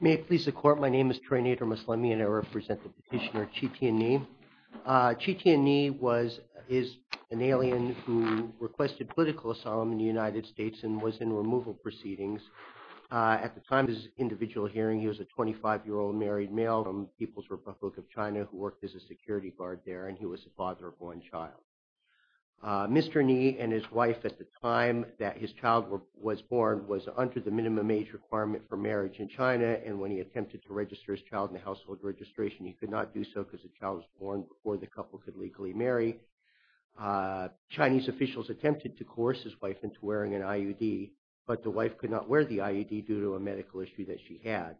May it please the Court, my name is Trey Nader-Maslami and I represent the petitioner Qitian Ni. Qitian Ni is an alien who requested political asylum in the United States and was in removal proceedings. At the time of his individual hearing he was a 25-year-old married male from People's Republic of China who worked as a security guard there and he was a father of one child. Mr. Ni and his wife at the time that his child was born was under the minimum age requirement for marriage in China and when he attempted to register his child in the household registration he could not do so because the child was born before the couple could legally marry. Chinese officials attempted to coerce his wife into wearing an IUD but the wife could not wear the IUD due to a medical issue that she had.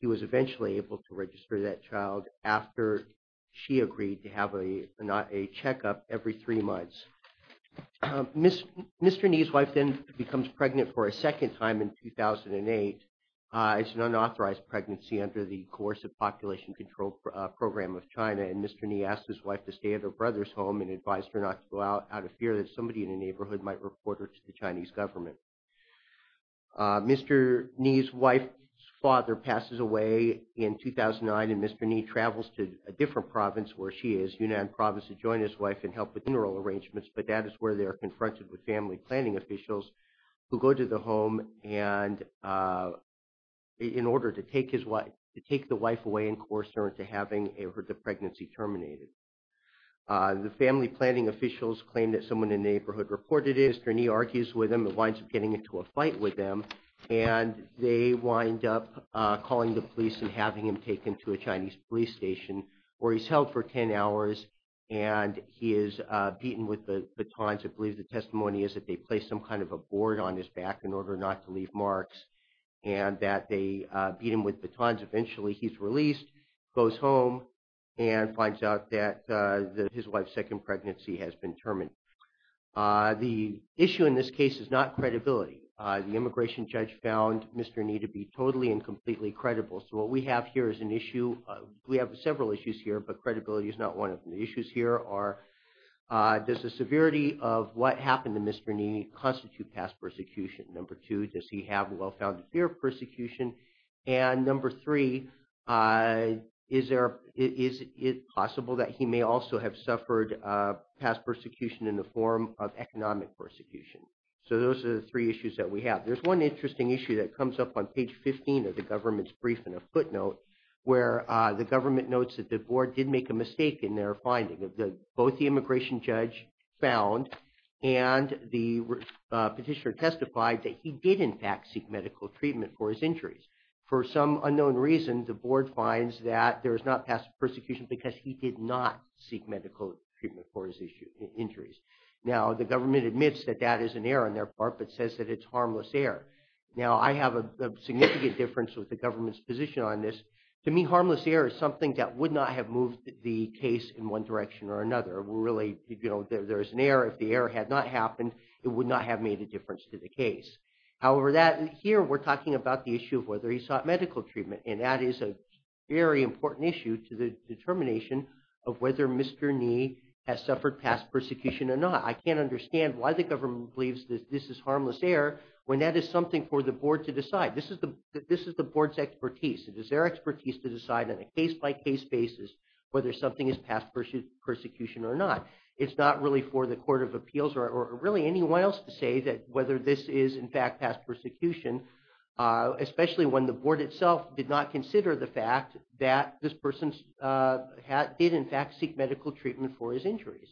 He was eventually able to register that child after she agreed to have a checkup every three months. Mr. Ni's wife then becomes pregnant for a second time in 2008. It's an unauthorized pregnancy under the Coercive Population Control Program of China and Mr. Ni asked his wife to stay at her brother's home and advised her not to go out out of fear that somebody in the neighborhood might report her to the Chinese government. Mr. Ni's wife's father passes away in 2009 and Mr. Ni travels to a different province where she is, Yunnan province, to join his wife and help with funeral arrangements but that is where they are confronted with family planning officials who go to the home and in order to take the wife away and coerce her into having the pregnancy terminated. The family planning officials claim that someone in the neighborhood reported it and Mr. Ni argues with them and winds up getting into a fight with them and they wind up calling the police and having him taken to a Chinese police station where he's held for 10 hours and he is beaten with batons. I believe the testimony is that they placed some kind of a board on his back in order not to leave marks and that they beat him with batons and eventually he's released, goes home and finds out that his wife's second pregnancy has been terminated. The issue in this case is not credibility. The immigration judge found Mr. Ni to be totally and completely credible so what we have here is an issue, we have several issues here but credibility is not one of the issues here are does the severity of what happened to Mr. Ni constitute past persecution? Number two, does he have a well-founded fear of persecution? And number three, is it possible that he may also have suffered past persecution in the form of economic persecution? So those are the three issues that we have. There's one interesting issue that comes up on page 15 of the government's briefing footnote where the government notes that the board did make a mistake in their finding. Both the immigration judge found and the petitioner testified that he did in fact seek medical treatment for his injuries. For some unknown reason, the board finds that there is not past persecution because he did not seek medical treatment for his injuries. Now the government admits that that is an error on their part but says that it's harmless error. Now I have a significant difference with the government's position on this. To me, harmless error is something that would not have moved the case in one direction or another. Really, you know, there's an error if the error had not happened, it would not have made a difference to the case. However, here we're talking about the issue of whether he sought medical treatment and that is a very important issue to the determination of whether Mr. Ni has suffered past persecution or not. I can't understand why the government believes that this is harmless error when that is something for the board to decide. This is the board's expertise. It is their expertise to decide on a case-by-case basis whether something is past persecution or not. It's not really for the Court of Appeals or really anyone else to say that whether this is in fact past persecution, especially when the board itself did not consider the fact that this person did in fact seek medical treatment for his injuries.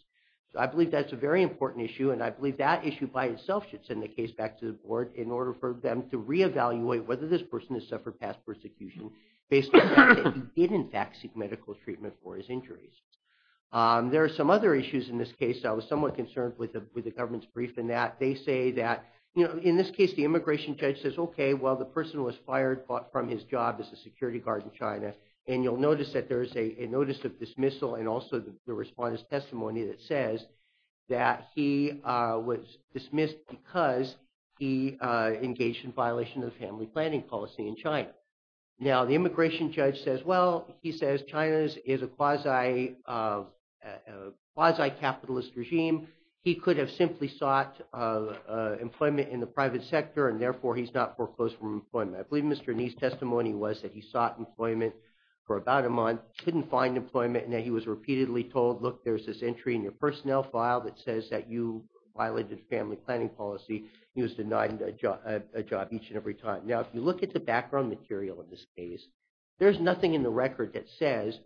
I believe that's a very important issue and I believe that issue by itself should send the case back to the board in order for them to re-evaluate whether this person has suffered past persecution based on the fact that he did in fact seek medical treatment for his injuries. There are some other issues in this case that I was somewhat concerned with the government's brief in that they say that, you know, in this case the immigration judge says, okay, well the person was fired from his job as a security guard in China and you'll notice that there is a notice of dismissal and also the response testimony that says that he was dismissed because he engaged in violation of family planning policy in China. Now the immigration judge says, well, he says China is a quasi-capitalist regime. He could have simply sought employment in the private sector and therefore he's not foreclosed from employment. I believe Mr. Ni's testimony was that he sought employment for about a month, couldn't find employment and that he was repeatedly told, look, there's this entry in your personnel file that says that you violated family planning policy. He was denied a job each and every time. Now if you look at the background material of this case, there's nothing in the record that says,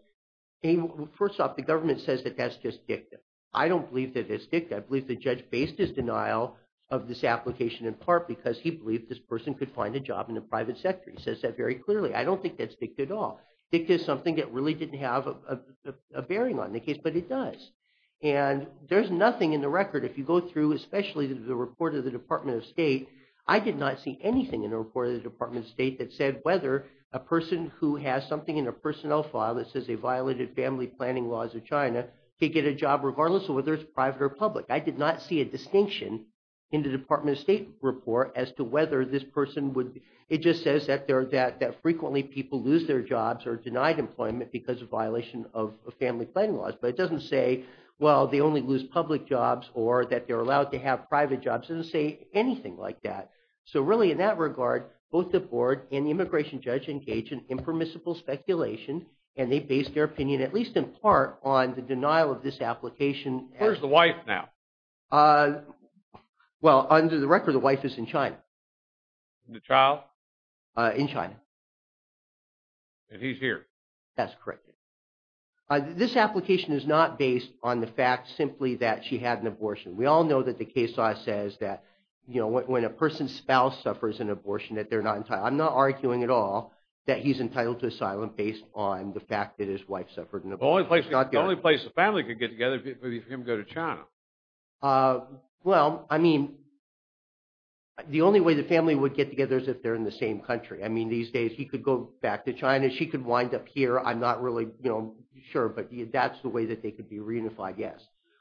first off, the government says that that's just dicta. I don't believe that it's dicta. I believe the judge based his denial of this application in part because he believed this was a private sector. He says that very clearly. I don't think that's dicta at all. Dicta is something that really didn't have a bearing on the case, but it does. And there's nothing in the record, if you go through especially the report of the Department of State, I did not see anything in the report of the Department of State that said whether a person who has something in a personnel file that says they violated family planning laws of China could get a job regardless of whether it's private or public. I did not see a distinction in the Department of State report as to whether this person It just says that frequently people lose their jobs or are denied employment because of violation of family planning laws. But it doesn't say, well, they only lose public jobs or that they're allowed to have private jobs. It doesn't say anything like that. So really in that regard, both the board and the immigration judge engaged in impermissible speculation and they based their opinion, at least in part, on the denial of this application. Where's the wife now? Well, under the record, the wife is in China. The child? In China. And he's here? That's correct. This application is not based on the fact simply that she had an abortion. We all know that the case law says that, you know, when a person's spouse suffers an abortion that they're not entitled. I'm not arguing at all that he's entitled to asylum based on the fact that his wife suffered an abortion. The only place the family could get together is for him to go to China. Well, I mean, the only way the family would get together is if they're in the same country. I mean, these days he could go back to China, she could wind up here. I'm not really sure, but that's the way that they could be reunified, yes.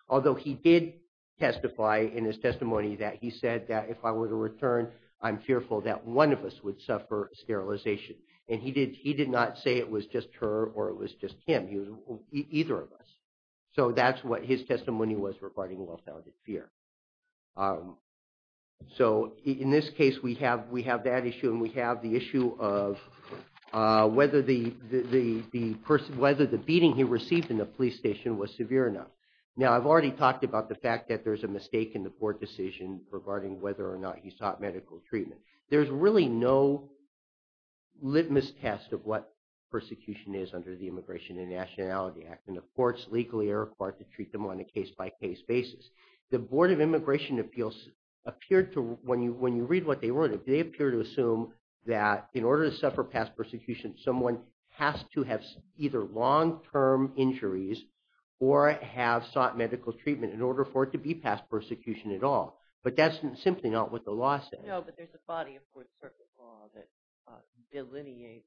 Although he did testify in his testimony that he said that if I were to return, I'm fearful that one of us would suffer sterilization. And he did not say it was just her or it was just him, it was either of us. So that's what his testimony was regarding well-founded fear. So in this case, we have that issue and we have the issue of whether the beating he received in the police station was severe enough. Now I've already talked about the fact that there's a mistake in the court decision regarding whether or not he sought medical treatment. There's really no litmus test of what persecution is under the Immigration and Nationality Act. And the courts legally are required to treat them on a case-by-case basis. The Board of Immigration Appeals appeared to, when you read what they wrote, they appear to assume that in order to suffer past persecution, someone has to have either long-term injuries or have sought medical treatment in order for it to be past persecution at all. But that's simply not what the law says. No, but there's a body of court circuit law that delineates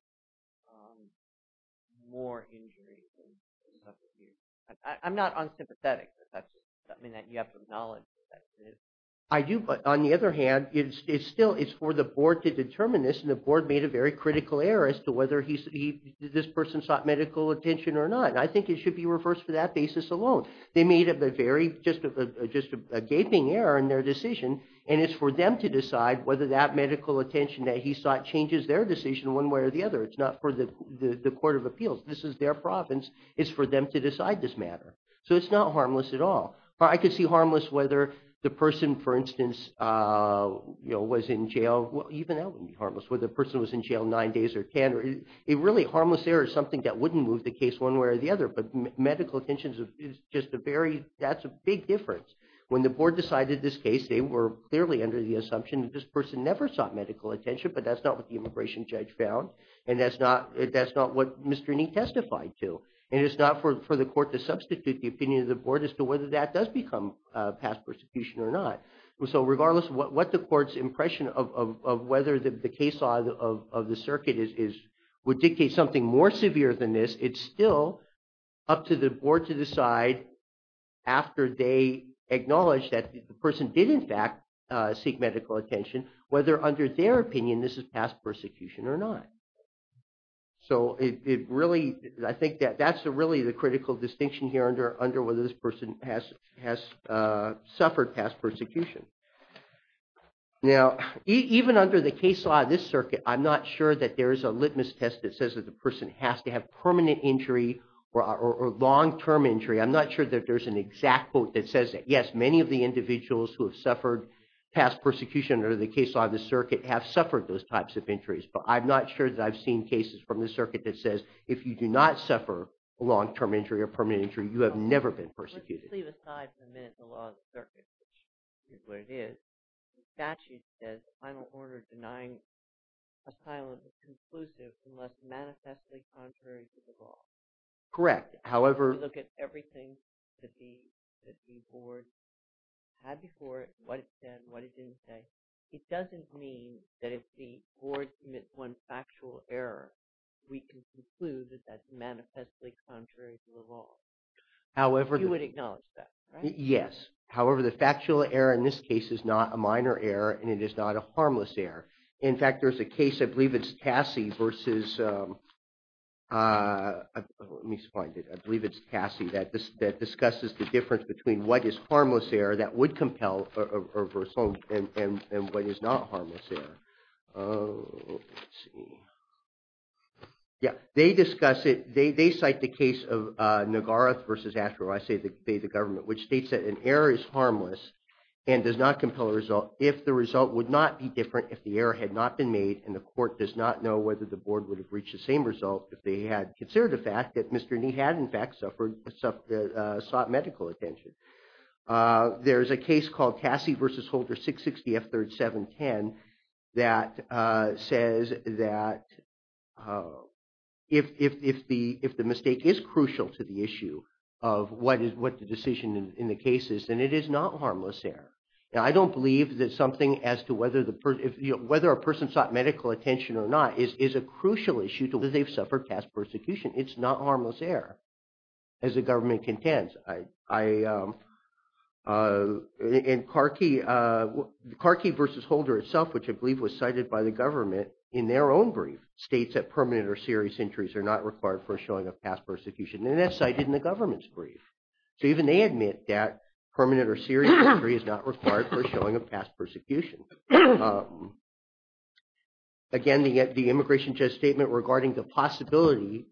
more injuries and persecution. I'm not unsympathetic, but that's something that you have to acknowledge. I do, but on the other hand, it's still, it's for the board to determine this and the board made a very critical error as to whether this person sought medical attention or not. I think it should be reversed for that basis alone. They made a very, just a gaping error in their decision, and it's for them to decide whether that medical attention that he sought changes their decision one way or the other. It's not for the Court of Appeals. This is their province. It's for them to decide this matter. So it's not harmless at all. I could see harmless whether the person, for instance, was in jail, even that would be harmless, whether the person was in jail nine days or 10. Really, harmless error is something that wouldn't move the case one way or the other, but medical attention is just a very, that's a big difference. When the board decided this case, they were clearly under the assumption that this person never sought medical attention, but that's not what the immigration judge found, and that's not what Ms. Dreening testified to, and it's not for the court to substitute the opinion of the board as to whether that does become past persecution or not. So regardless of what the court's impression of whether the case law of the circuit would dictate something more severe than this, it's still up to the board to decide after they acknowledge that the person did, in fact, seek medical attention, whether under their opinion this is past persecution or not. So it really, I think that that's really the critical distinction here under whether this person has suffered past persecution. Now, even under the case law of this circuit, I'm not sure that there is a litmus test that says that the person has to have permanent injury or long-term injury. I'm not sure that there's an exact quote that says that, yes, many of the individuals who have suffered past persecution under the case law of the circuit have suffered those types of injuries, but I'm not sure that I've seen cases from the circuit that says if you do not suffer a long-term injury or permanent injury, you have never been persecuted. Let's just leave aside for a minute the law of the circuit, which is what it is. The statute says final order denying asylum is conclusive unless manifestly contrary to the law. Correct. However... If you look at everything that the board had before it, what it said, what it didn't say, it doesn't mean that if the board commits one factual error, we can conclude that that's manifestly contrary to the law. However... You would acknowledge that, right? Yes. However, the factual error in this case is not a minor error, and it is not a harmless error. In fact, there's a case, I believe it's Cassie versus... Let me find it. I believe it's Cassie that discusses the difference between what is harmless error that would compel and what is not a harmless error. Let's see. Yeah. They discuss it. They cite the case of Nagarath versus Asheville, I say they, the government, which states that an error is harmless and does not compel a result if the result would not be different if the error had not been made and the court does not know whether the board would have reached the same result if they had considered the fact that Mr. Nee had, in fact, sought medical attention. There's a case called Cassie versus Holder 660F3710 that says that if the mistake is crucial to the issue of what the decision in the case is, then it is not harmless error. Now, I don't believe that something as to whether a person sought medical attention or not is a crucial issue to whether they've suffered past persecution. It's not harmless error, as the government contends. And Carkey versus Holder itself, which I believe was cited by the government in their own brief, states that permanent or serious injuries are not required for showing of past persecution. And that's cited in the government's brief. So even they admit that permanent or serious injury is not required for showing of past persecution. Again, the Immigration Justice Statement regarding the possibility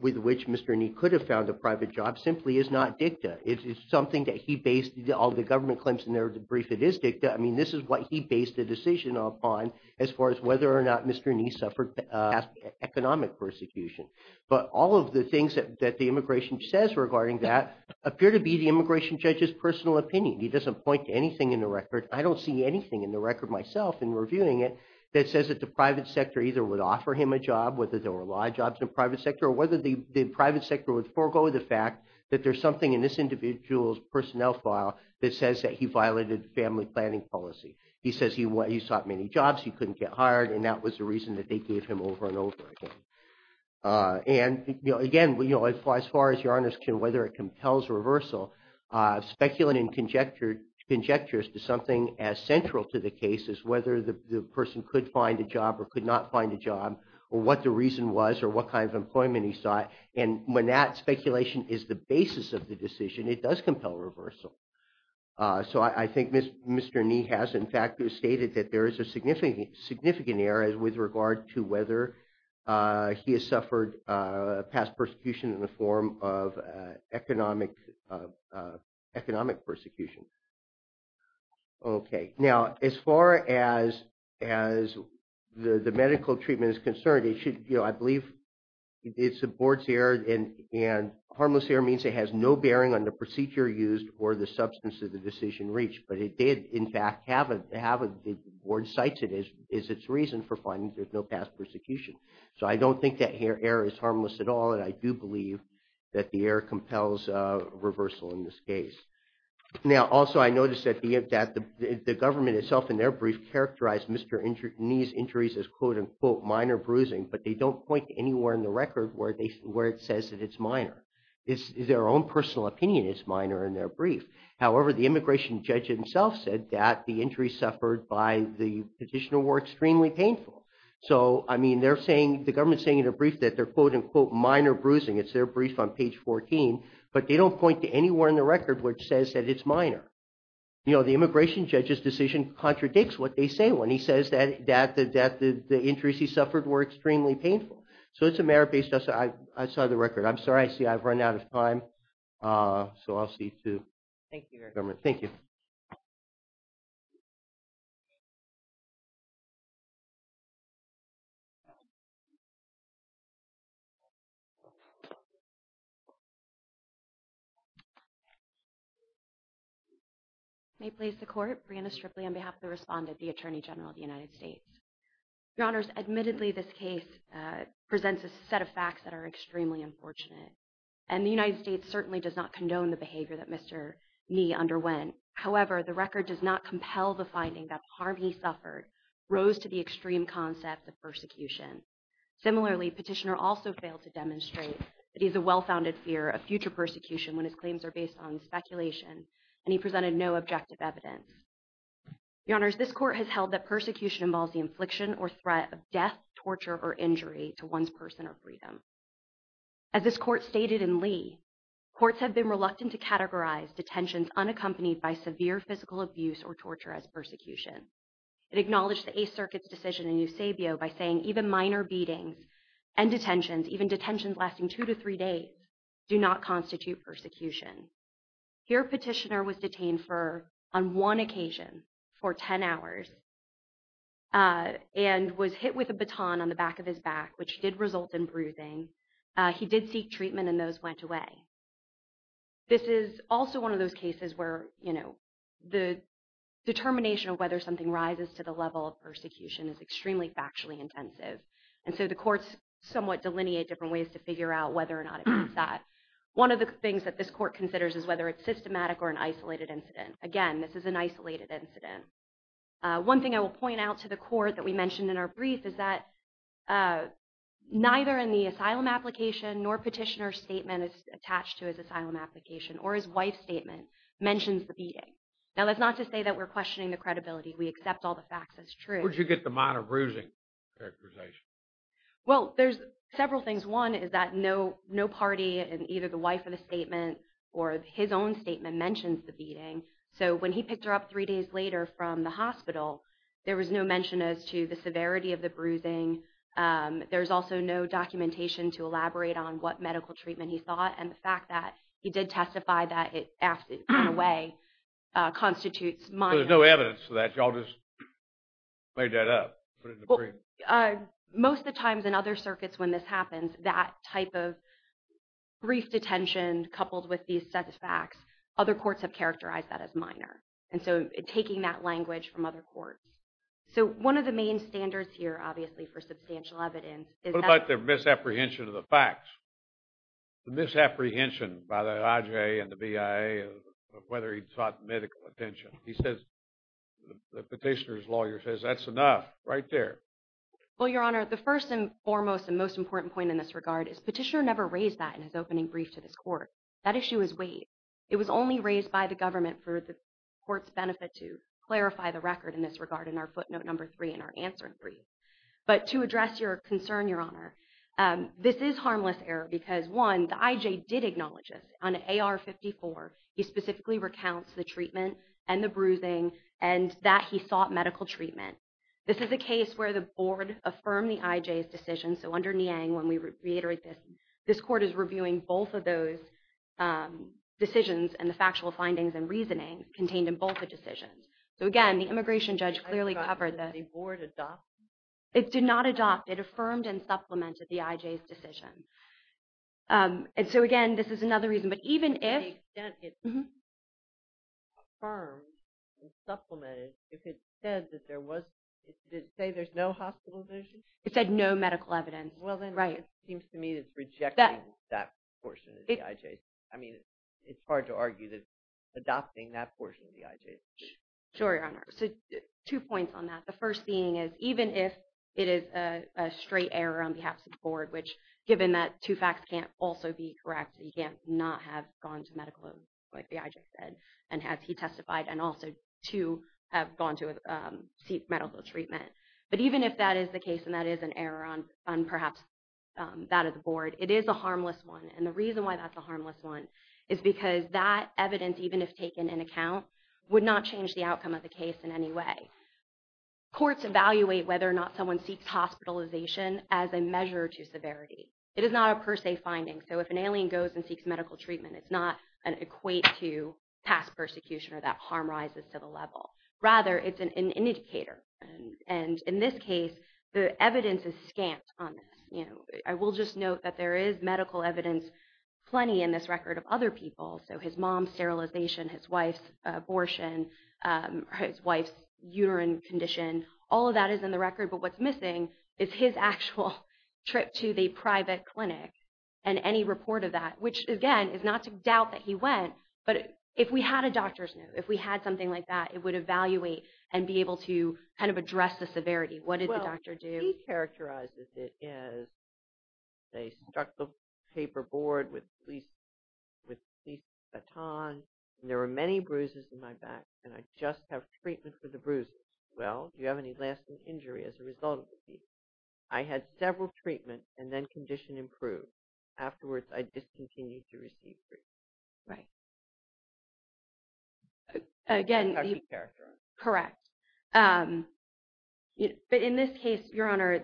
with which Mr. Nee could have found a private job simply is not dicta. It is something that he based all the government claims in their brief. It is dicta. I mean, this is what he based the decision upon as far as whether or not Mr. Nee suffered past economic persecution. But all of the things that the immigration says regarding that appear to be the immigration judge's personal opinion. He doesn't point to anything in the record. I don't see anything in the record myself in reviewing it that says that the private sector either would offer him a job, whether there were a lot of jobs in the private sector, or whether the private sector would forego the fact that there's something in this individual's personnel file that says that he violated family planning policy. He says he sought many jobs, he couldn't get hired, and that was the reason that they gave him over and over again. And again, as far as your Honor's question, whether it compels reversal, speculating conjectures to something as central to the case as whether the person could find a job or could not find a job, or what the reason was, or what kind of employment he sought, and when that speculation is the basis of the decision, it does compel reversal. So I think Mr. Nee has in fact stated that there is a significant error with regard to whether he has suffered past persecution in the form of economic persecution. Okay. Now, as far as the medical treatment is concerned, it should, you know, I believe it supports the error, and harmless error means it has no bearing on the procedure used or the substance of the decision reached. But it did in fact have, the board cites it as its reason for finding there's no past persecution. So I don't think that error is harmless at all, and I do believe that the error compels reversal in this case. Now, also I noticed that the government itself in their brief characterized Mr. Nee's injuries as quote-unquote minor bruising, but they don't point to anywhere in the record where it says that it's minor. Their own personal opinion is minor in their brief. However, the immigration judge himself said that the injuries suffered by the petitioner were extremely painful. So, I mean, they're saying, the government's saying in their brief that they're quote-unquote minor bruising, it's their brief on page 14, but they don't point to anywhere in the record which says that it's minor. You know, the immigration judge's decision contradicts what they say when he says that the injuries he suffered were extremely painful. So it's a merit-based, I saw the record. I'm sorry, I see I've run out of time. So I'll see to the government. Thank you. May it please the court, Breanna Stripley on behalf of the respondent, the Attorney General of the United States. Your Honors, admittedly this case presents a set of facts that are extremely unfortunate. And the United States certainly does not condone the behavior that Mr. Nee underwent. However, the record does not compel the finding that the harm he suffered rose to the extreme concept of persecution. Similarly, Petitioner also failed to demonstrate that he has a well-founded fear of future persecution when his claims are based on speculation, and he presented no objective evidence. Your Honors, this court has held that persecution involves the infliction or threat of death, torture, or injury to one's person or freedom. As this court stated in Lee, courts have been reluctant to categorize detentions unaccompanied by severe physical abuse or torture as persecution. It acknowledged the Eighth Circuit's decision in Eusebio by saying even minor beatings and detentions, even detentions lasting two to three days, do not constitute persecution. Here, Petitioner was detained on one occasion for ten hours and was hit with a baton on the back of his back, which did result in bruising. He did seek treatment and those went away. This is also one of those cases where the determination of whether something rises to the level of persecution is extremely factually intensive, and so the courts somewhat delineate different ways to figure out whether or not it means that. One of the things that this court considers is whether it's systematic or an isolated incident. Again, this is an isolated incident. One thing I will point out to the court that we mentioned in our brief is that neither in the asylum application nor Petitioner's statement attached to his asylum application or his wife's statement mentions the beating. Now, that's not to say that we're questioning the credibility. We accept all the facts as true. Where did you get the minor bruising characterization? Well, there's several things. One is that no party in either the wife of the statement or his own statement mentions the beating, so when he picked her up three days later from the hospital, there was no mention as to the severity of the bruising. There's also no documentation to elaborate on what medical treatment he thought, and the fact that he did testify that it, in a way, constitutes minor. So there's no evidence for that? Y'all just made that up, put it in the brief? Well, most of the times in other circuits when this happens, that type of brief detention coupled with these sets of facts, other courts have characterized that as minor, and so taking that language from other courts. So one of the main standards here, obviously, for substantial evidence is that— What about the misapprehension of the facts? The misapprehension by the IJA and the BIA of whether he sought medical attention? He says, the petitioner's lawyer says, that's enough, right there. Well, Your Honor, the first and foremost and most important point in this regard is petitioner never raised that in his opening brief to this court. That issue is weighed. It was only raised by the government for the court's benefit to clarify the record in this regard in our footnote number three in our answering brief. But to address your concern, Your Honor, this is harmless error because, one, the IJA did acknowledge this. On AR-54, he specifically recounts the treatment and the bruising and that he sought medical treatment. This is a case where the board affirmed the IJA's decision. So under Niang, when we reiterate this, this court is reviewing both of those decisions and the factual findings and reasoning contained in both the decisions. So again, the immigration judge clearly covered that. Did the board adopt it? It did not adopt. It affirmed and supplemented the IJA's decision. And so again, this is another reason. But even if— To the extent it affirmed and supplemented, if it said that there was—did it say there's no hospitalization? It said no medical evidence, right. Well, then it seems to me it's rejecting that portion of the IJA's decision. I mean, it's hard to argue that adopting that portion of the IJA's decision. Sure, Your Honor. So two points on that. The first being is, even if it is a straight error on behalf of the board, which, given that two facts can't also be correct, he can't not have gone to medical, like the IJA said, and had he testified, and also to have gone to seek medical treatment. But even if that is the case and that is an error on perhaps that of the board, it is a harmless one. And the reason why that's a harmless one is because that evidence, even if taken in account, would not change the outcome of the case in any way. Courts evaluate whether or not someone seeks hospitalization as a measure to severity. It is not a per se finding. So if an alien goes and seeks medical treatment, it's not an equate to past persecution or that harm rises to the level. Rather, it's an indicator. And in this case, the evidence is scant on this. I will just note that there is medical evidence, plenty in this record, of other people. So his mom's sterilization, his wife's abortion, his wife's urine condition, all of that is in the record. But what's missing is his actual trip to the private clinic and any report of that, which, again, is not to doubt that he went. But if we had a doctor's note, if we had something like that, it would evaluate and be able to kind of address the severity. What did the doctor do? He characterizes it as they struck the paperboard with police batons, and there were many bruises in my back, and I just have treatment for the bruises. Well, do you have any lasting injury as a result of the treatment? I had several treatments and then condition improved. Afterwards, I discontinued to receive treatment. Right. Again, correct. But in this case, Your Honor,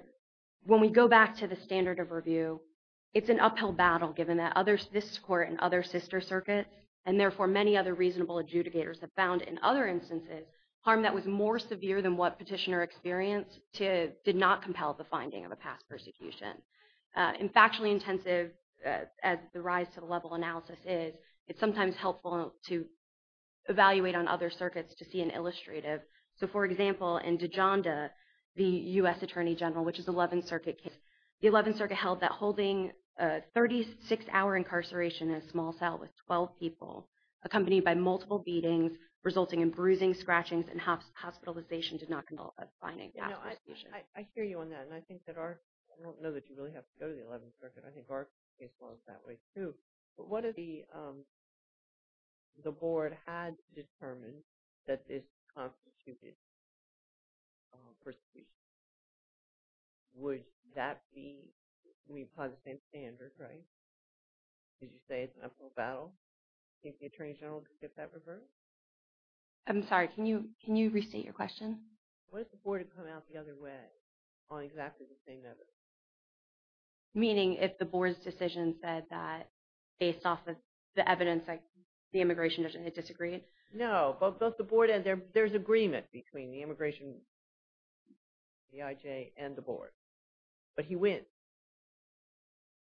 when we go back to the standard of review, it's an uphill battle given that this court and other sister circuits, and therefore many other reasonable adjudicators have found, in other instances, harm that was more severe than what petitioner experienced did not compel the finding of a past persecution. In factually intensive, as the rise to the level analysis is, it's sometimes helpful to see an illustrative. So, for example, in Dijonda, the U.S. Attorney General, which is the 11th Circuit case, the 11th Circuit held that holding a 36-hour incarceration in a small cell with 12 people, accompanied by multiple beatings, resulting in bruising, scratchings, and hospitalization did not compel a finding of a past persecution. I hear you on that, and I think that our – I don't know that you really have to go to the 11th Circuit. I think our case was that way, too. But what if the board had determined that this constituted persecution? Would that be – I mean, by the same standard, right? Did you say it's an uphill battle? Do you think the Attorney General could get that reversed? I'm sorry. Can you restate your question? What if the board had come out the other way on exactly the same evidence? Meaning, if the board's decision said that, based off the evidence, the immigration judge and they disagreed? No. Both the board and their – there's agreement between the immigration – D-I-J and the board. But he wins.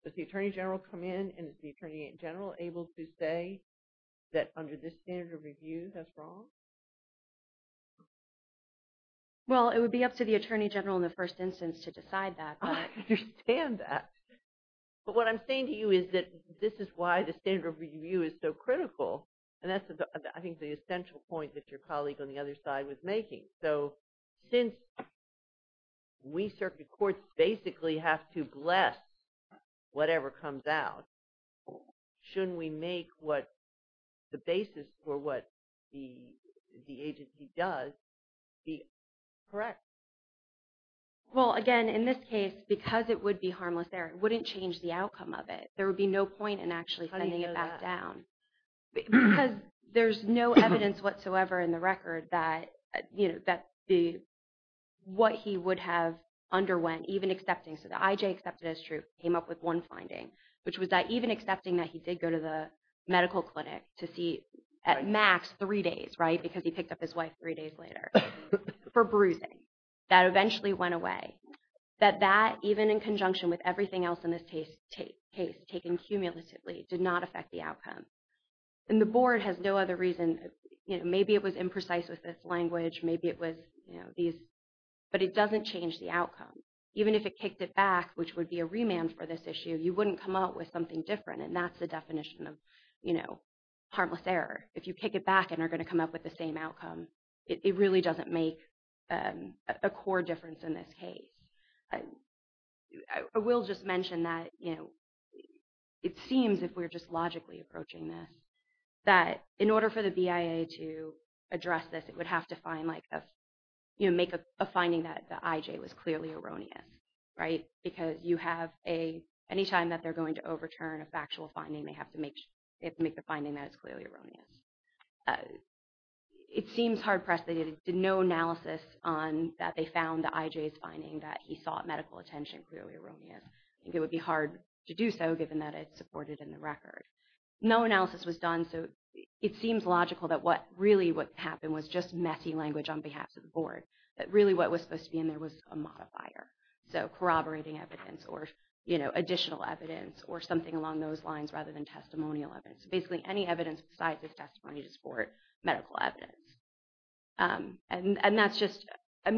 Does the Attorney General come in, and is the Attorney General able to say that, under this standard of review, that's wrong? Well, it would be up to the Attorney General in the first instance to decide that, but – I understand that. But what I'm saying to you is that this is why the standard of review is so critical, and that's, I think, the essential point that your colleague on the other side was making. So, since we circuit courts basically have to bless whatever comes out, shouldn't we make what the basis for what the agency does be correct? Well, again, in this case, because it would be harmless there, it wouldn't change the outcome of it. There would be no point in actually sending it back down. How do you know that? Because there's no evidence whatsoever in the record that the – what he would have underwent, even accepting – so the I-J accepted as true, came up with one finding, which was that even accepting that he did go to the medical clinic to see, at max, three days, right, because he picked up his wife three days later, for bruising, that eventually went away, that that, even in conjunction with everything else in this case taken cumulatively, did not affect the outcome. And the Board has no other reason – maybe it was imprecise with this language, maybe it was these – but it doesn't change the outcome. Even if it kicked it back, which would be a remand for this issue, you wouldn't come up with something different, and that's the definition of harmless error. If you kick it back and are going to come up with the same outcome, it really doesn't make a core difference in this case. I will just mention that it seems, if we're just logically approaching this, that in order for the BIA to address this, it would have to find like a – make a finding that the I-J was clearly erroneous, right? Because you have a – anytime that they're going to overturn a factual finding, they have to make the finding that it's clearly erroneous. It seems hard-pressed. They did no analysis on – that they found the I-J's finding that he sought medical attention clearly erroneous. I think it would be hard to do so, given that it's supported in the record. No analysis was done, so it seems logical that what – really what happened was just messy language on behalf of the Board, that really what was supposed to be in there was a modifier. So corroborating evidence or additional evidence or something along those lines rather than testimonial evidence. Basically, any evidence besides his testimony to support medical evidence. And that's just – I'm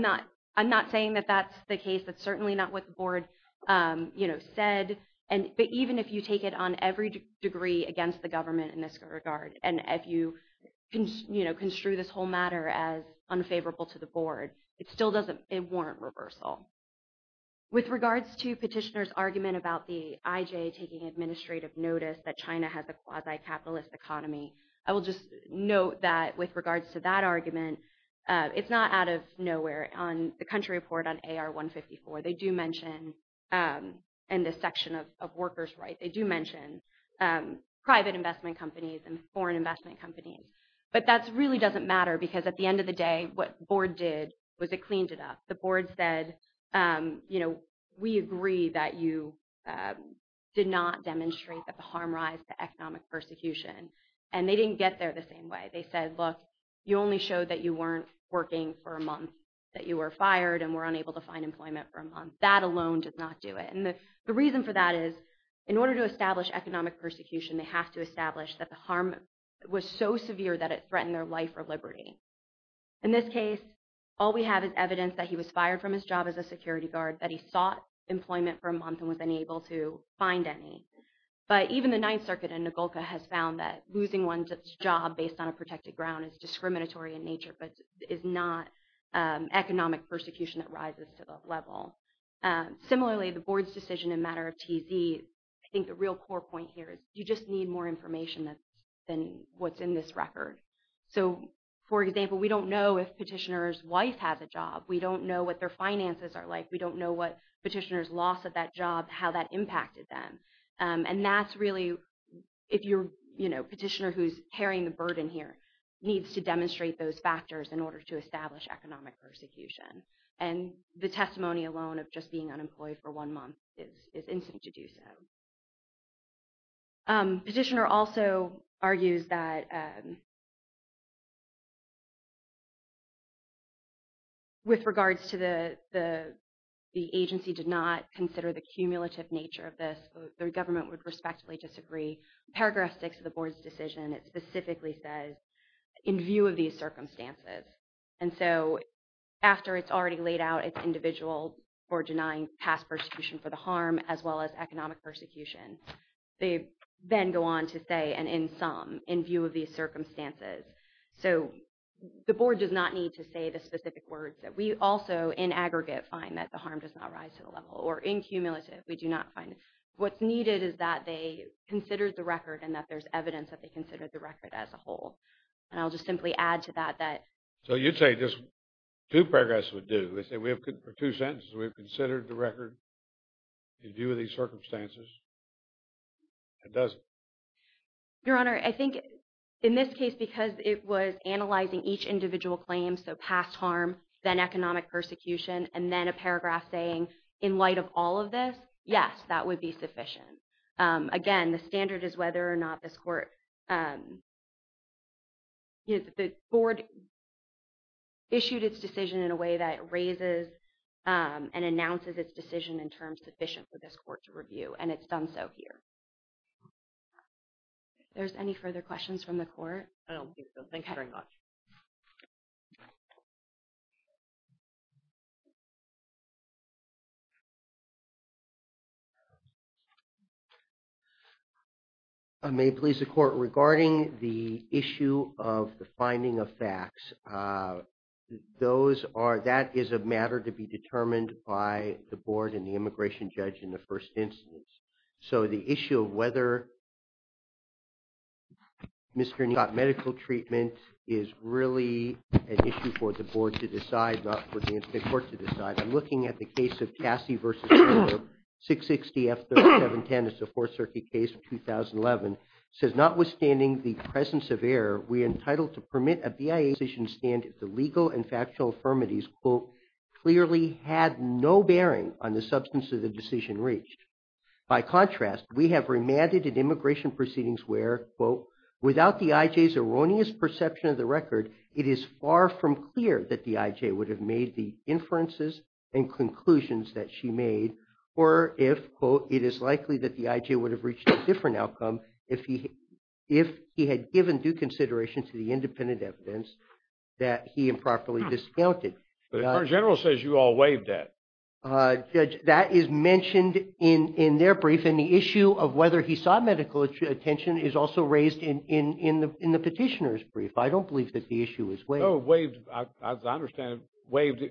not saying that that's the case. That's certainly not what the Board said. But even if you take it on every degree against the government in this regard, and if you construe this whole matter as unfavorable to the Board, it still doesn't warrant reversal. With regards to Petitioner's argument about the I-J taking administrative notice that China has a quasi-capitalist economy, I will just note that with regards to that argument, it's not out of nowhere on the country report on AR-154. They do mention in this section of workers' rights – they do mention private investment companies and foreign investment companies. But that really doesn't matter because at the end of the day, what the Board did was it cleaned it up. The Board said, you know, we agree that you did not demonstrate that the harm rise to economic persecution. And they didn't get there the same way. They said, look, you only showed that you weren't working for a month, that you were fired and were unable to find employment for a month. That alone did not do it. And the reason for that is, in order to establish economic persecution, they have to establish that the harm was so severe that it threatened their life or liberty. In this case, all we have is evidence that he was fired from his job as a security guard, that he sought employment for a month and was unable to find any. But even the Ninth Circuit in Nogolka has found that losing one's job based on a protected ground is discriminatory in nature but is not economic persecution that rises to that level. Similarly, the Board's decision in matter of TZ, I think the real core point here is you just need more information than what's in this record. So, for example, we don't know if petitioner's wife has a job. We don't know what their finances are like. We don't know what petitioner's loss of that job, how that impacted them. And that's really, if you're, you know, a petitioner who's carrying the burden here, needs to demonstrate those factors in order to establish economic persecution. And the testimony alone of just being unemployed for one month is instant to do so. Petitioner also argues that with regards to the agency did not consider the cumulative nature of this, the government would respectfully disagree. Paragraph 6 of the Board's decision, it specifically says, in view of these circumstances. And so, after it's already laid out, it's individual for denying past persecution for the harm, as well as economic persecution. They then go on to say, and in sum, in view of these circumstances. So, the Board does not need to say the specific words that we also, in aggregate, find that the harm does not rise to the level. Or in cumulative, we do not find it. What's needed is that they considered the record and that there's evidence that they considered the record as a whole. And I'll just simply add to that that. So, you'd say just two paragraphs would do. We have two sentences. We've considered the record in view of these circumstances. It doesn't. Your Honor, I think in this case, because it was analyzing each individual claim, so past harm, then economic persecution, and then a paragraph saying, in light of all of this, yes, that would be sufficient. Again, the standard is whether or not this Court, you know, the Board issued its decision in a way that raises and announces its decision in terms sufficient for this Court to review, and it's done so here. If there's any further questions from the Court. I don't think so. Thanks very much. May it please the Court, regarding the issue of the finding of facts, that is a matter to be determined by the Board and the immigration judge in the first instance. So the issue of whether Mr. Neal got medical treatment is really an issue for the Board to decide, not for the court to decide. I'm looking at the case of Cassie v. Miller, 660F3710. It's a Fourth Circuit case from 2011. It says, notwithstanding the presence of error, we are entitled to permit a BIA decision to stand if the legal and factual affirmatives, quote, clearly had no bearing on the substance of the decision reached. By contrast, we have remanded an immigration proceedings where, quote, without the IJ's erroneous perception of the record, it is far from clear that the IJ would have made the inferences and conclusions that she made, or if, quote, it is likely that the IJ would have reached a different outcome if he had given due consideration to the independent evidence that he improperly discounted. The Attorney General says you all waived that. That is mentioned in their brief, and the issue of whether he sought medical attention is also raised in the petitioner's brief. I don't believe that the issue is waived. No, waived. As I understand it, waived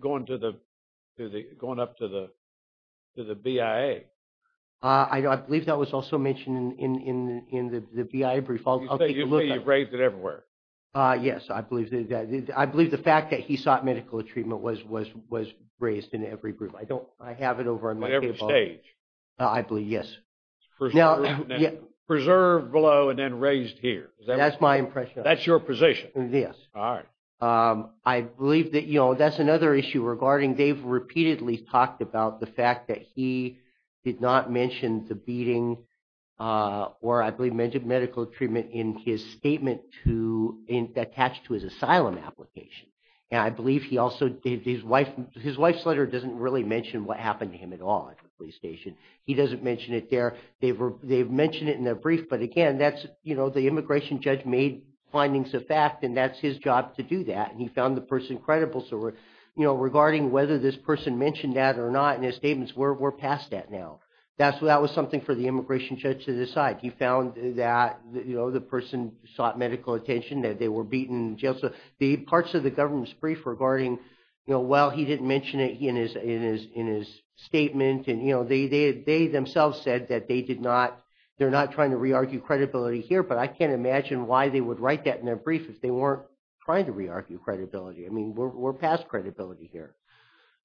going up to the BIA. I believe that was also mentioned in the BIA brief. You say you waived it everywhere. Yes, I believe that. I believe the fact that he sought medical treatment was raised in every brief. I don't. I have it over on my table. At every stage. I believe, yes. Preserved below and then raised here. That's my impression. That's your position. Yes. All right. I believe that, you know, that's another issue regarding Dave repeatedly talked about the fact that he did not mention the beating or I believe mentioned medical treatment in his statement attached to his asylum application. And I believe he also, his wife's letter doesn't really mention what happened to him at all at the police station. He doesn't mention it there. They've mentioned it in their brief. But, again, that's, you know, the immigration judge made findings of fact and that's his job to do that. And he found the person credible. So, you know, regarding whether this person mentioned that or not in his statements, we're past that now. That was something for the immigration judge to decide. He found that, you know, the person sought medical attention, that they were beaten in jail. So the parts of the government's brief regarding, you know, well, he didn't mention it in his statement. And, you know, they themselves said that they did not, they're not trying to re-argue credibility here. But I can't imagine why they would write that in their brief if they weren't trying to re-argue credibility. I mean, we're past credibility here.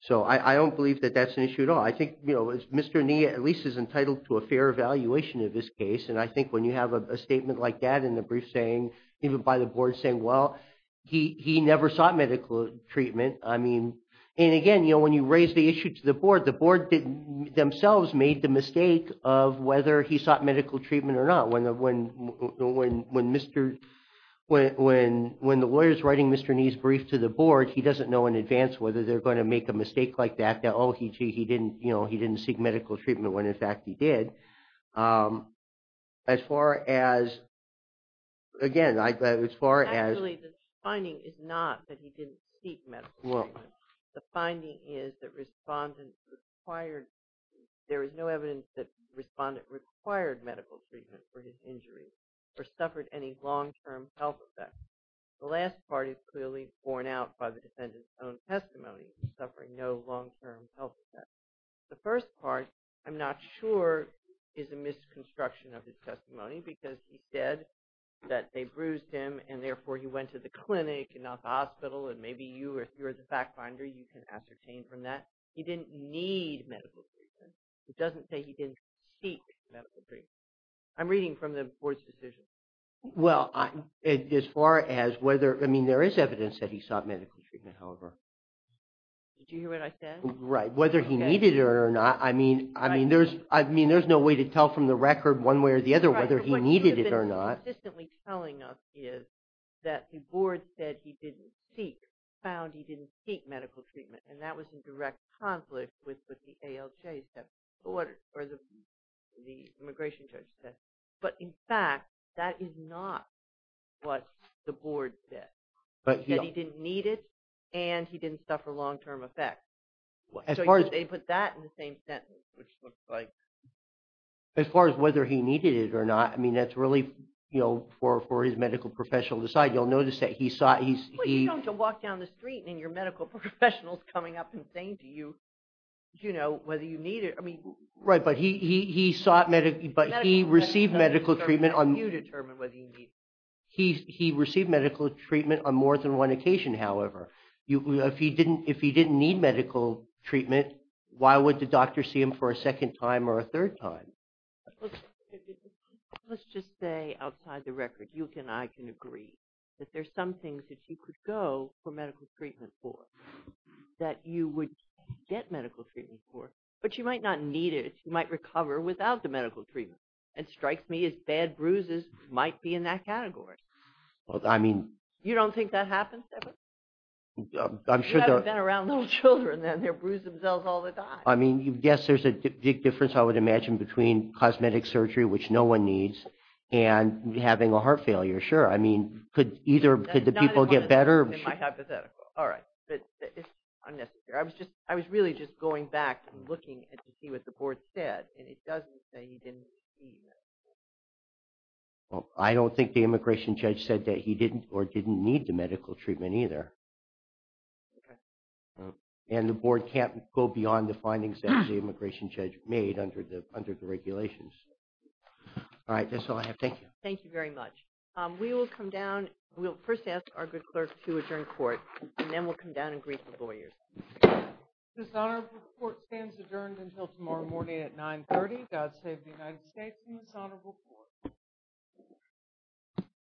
So I don't believe that that's an issue at all. I think, you know, Mr. Nia at least is entitled to a fair evaluation of his case. And I think when you have a statement like that in the brief saying, even by the board saying, well, he never sought medical treatment. I mean, and again, you know, when you raise the issue to the board, the board themselves made the mistake of whether he sought medical treatment or not. When the lawyers writing Mr. Nia's brief to the board, he doesn't know in advance whether they're going to make a mistake like that. That, oh, he didn't, you know, he didn't seek medical treatment when in fact he did. As far as, again, as far as. Actually, the finding is not that he didn't seek medical treatment. The finding is that respondents required, there is no evidence that respondents required medical treatment for his injury or suffered any long-term health effects. The last part is clearly borne out by the defendant's own testimony, suffering no long-term health effects. The first part, I'm not sure, is a misconstruction of his testimony because he said that they bruised him and therefore he went to the clinic and not the hospital. And maybe you, if you're the fact finder, you can ascertain from that. He didn't need medical treatment. It doesn't say he didn't seek medical treatment. I'm reading from the board's decision. Well, as far as whether, I mean, there is evidence that he sought medical treatment, however. Did you hear what I said? Right, whether he needed it or not. I mean, there's no way to tell from the record one way or the other whether he needed it or not. What you've been consistently telling us is that the board said he didn't seek, found he didn't seek medical treatment. And that was in direct conflict with what the ALJ said, or what the immigration judge said. But in fact, that is not what the board said. But he said he didn't need it and he didn't suffer long-term effects. So they put that in the same sentence, which looks like. As far as whether he needed it or not, I mean, that's really, you know, for his medical professional to decide. You'll notice that he sought. Well, you don't have to walk down the street and your medical professional is coming up and saying to you, you know, whether you need it. Right, but he sought medical, but he received medical treatment. You determine whether you need it. He received medical treatment on more than one occasion, however. If he didn't need medical treatment, why would the doctor see him for a second time or a third time? Let's just say outside the record, you and I can agree that there's some things that you could go for medical treatment for, that you would get medical treatment for, but you might not need it. You might recover without the medical treatment. It strikes me as bad bruises might be in that category. Well, I mean. You don't think that happens? I'm sure. You haven't been around little children and they bruise themselves all the time. I mean, yes, there's a big difference, I would imagine, between cosmetic surgery, which no one needs, and having a heart failure. Sure, I mean, could either, could the people get better? That's not in my hypothetical. All right. Unnecessary. I was really just going back and looking to see what the board said, and it doesn't say he didn't receive medical treatment. Well, I don't think the immigration judge said that he didn't or didn't need the medical treatment either. Okay. And the board can't go beyond the findings that the immigration judge made under the regulations. All right, that's all I have. Thank you. Thank you very much. We will come down. We'll first ask our good clerk to adjourn court, and then we'll come down and greet the lawyers. This honorable court stands adjourned until tomorrow morning at 930. God save the United States and this honorable court.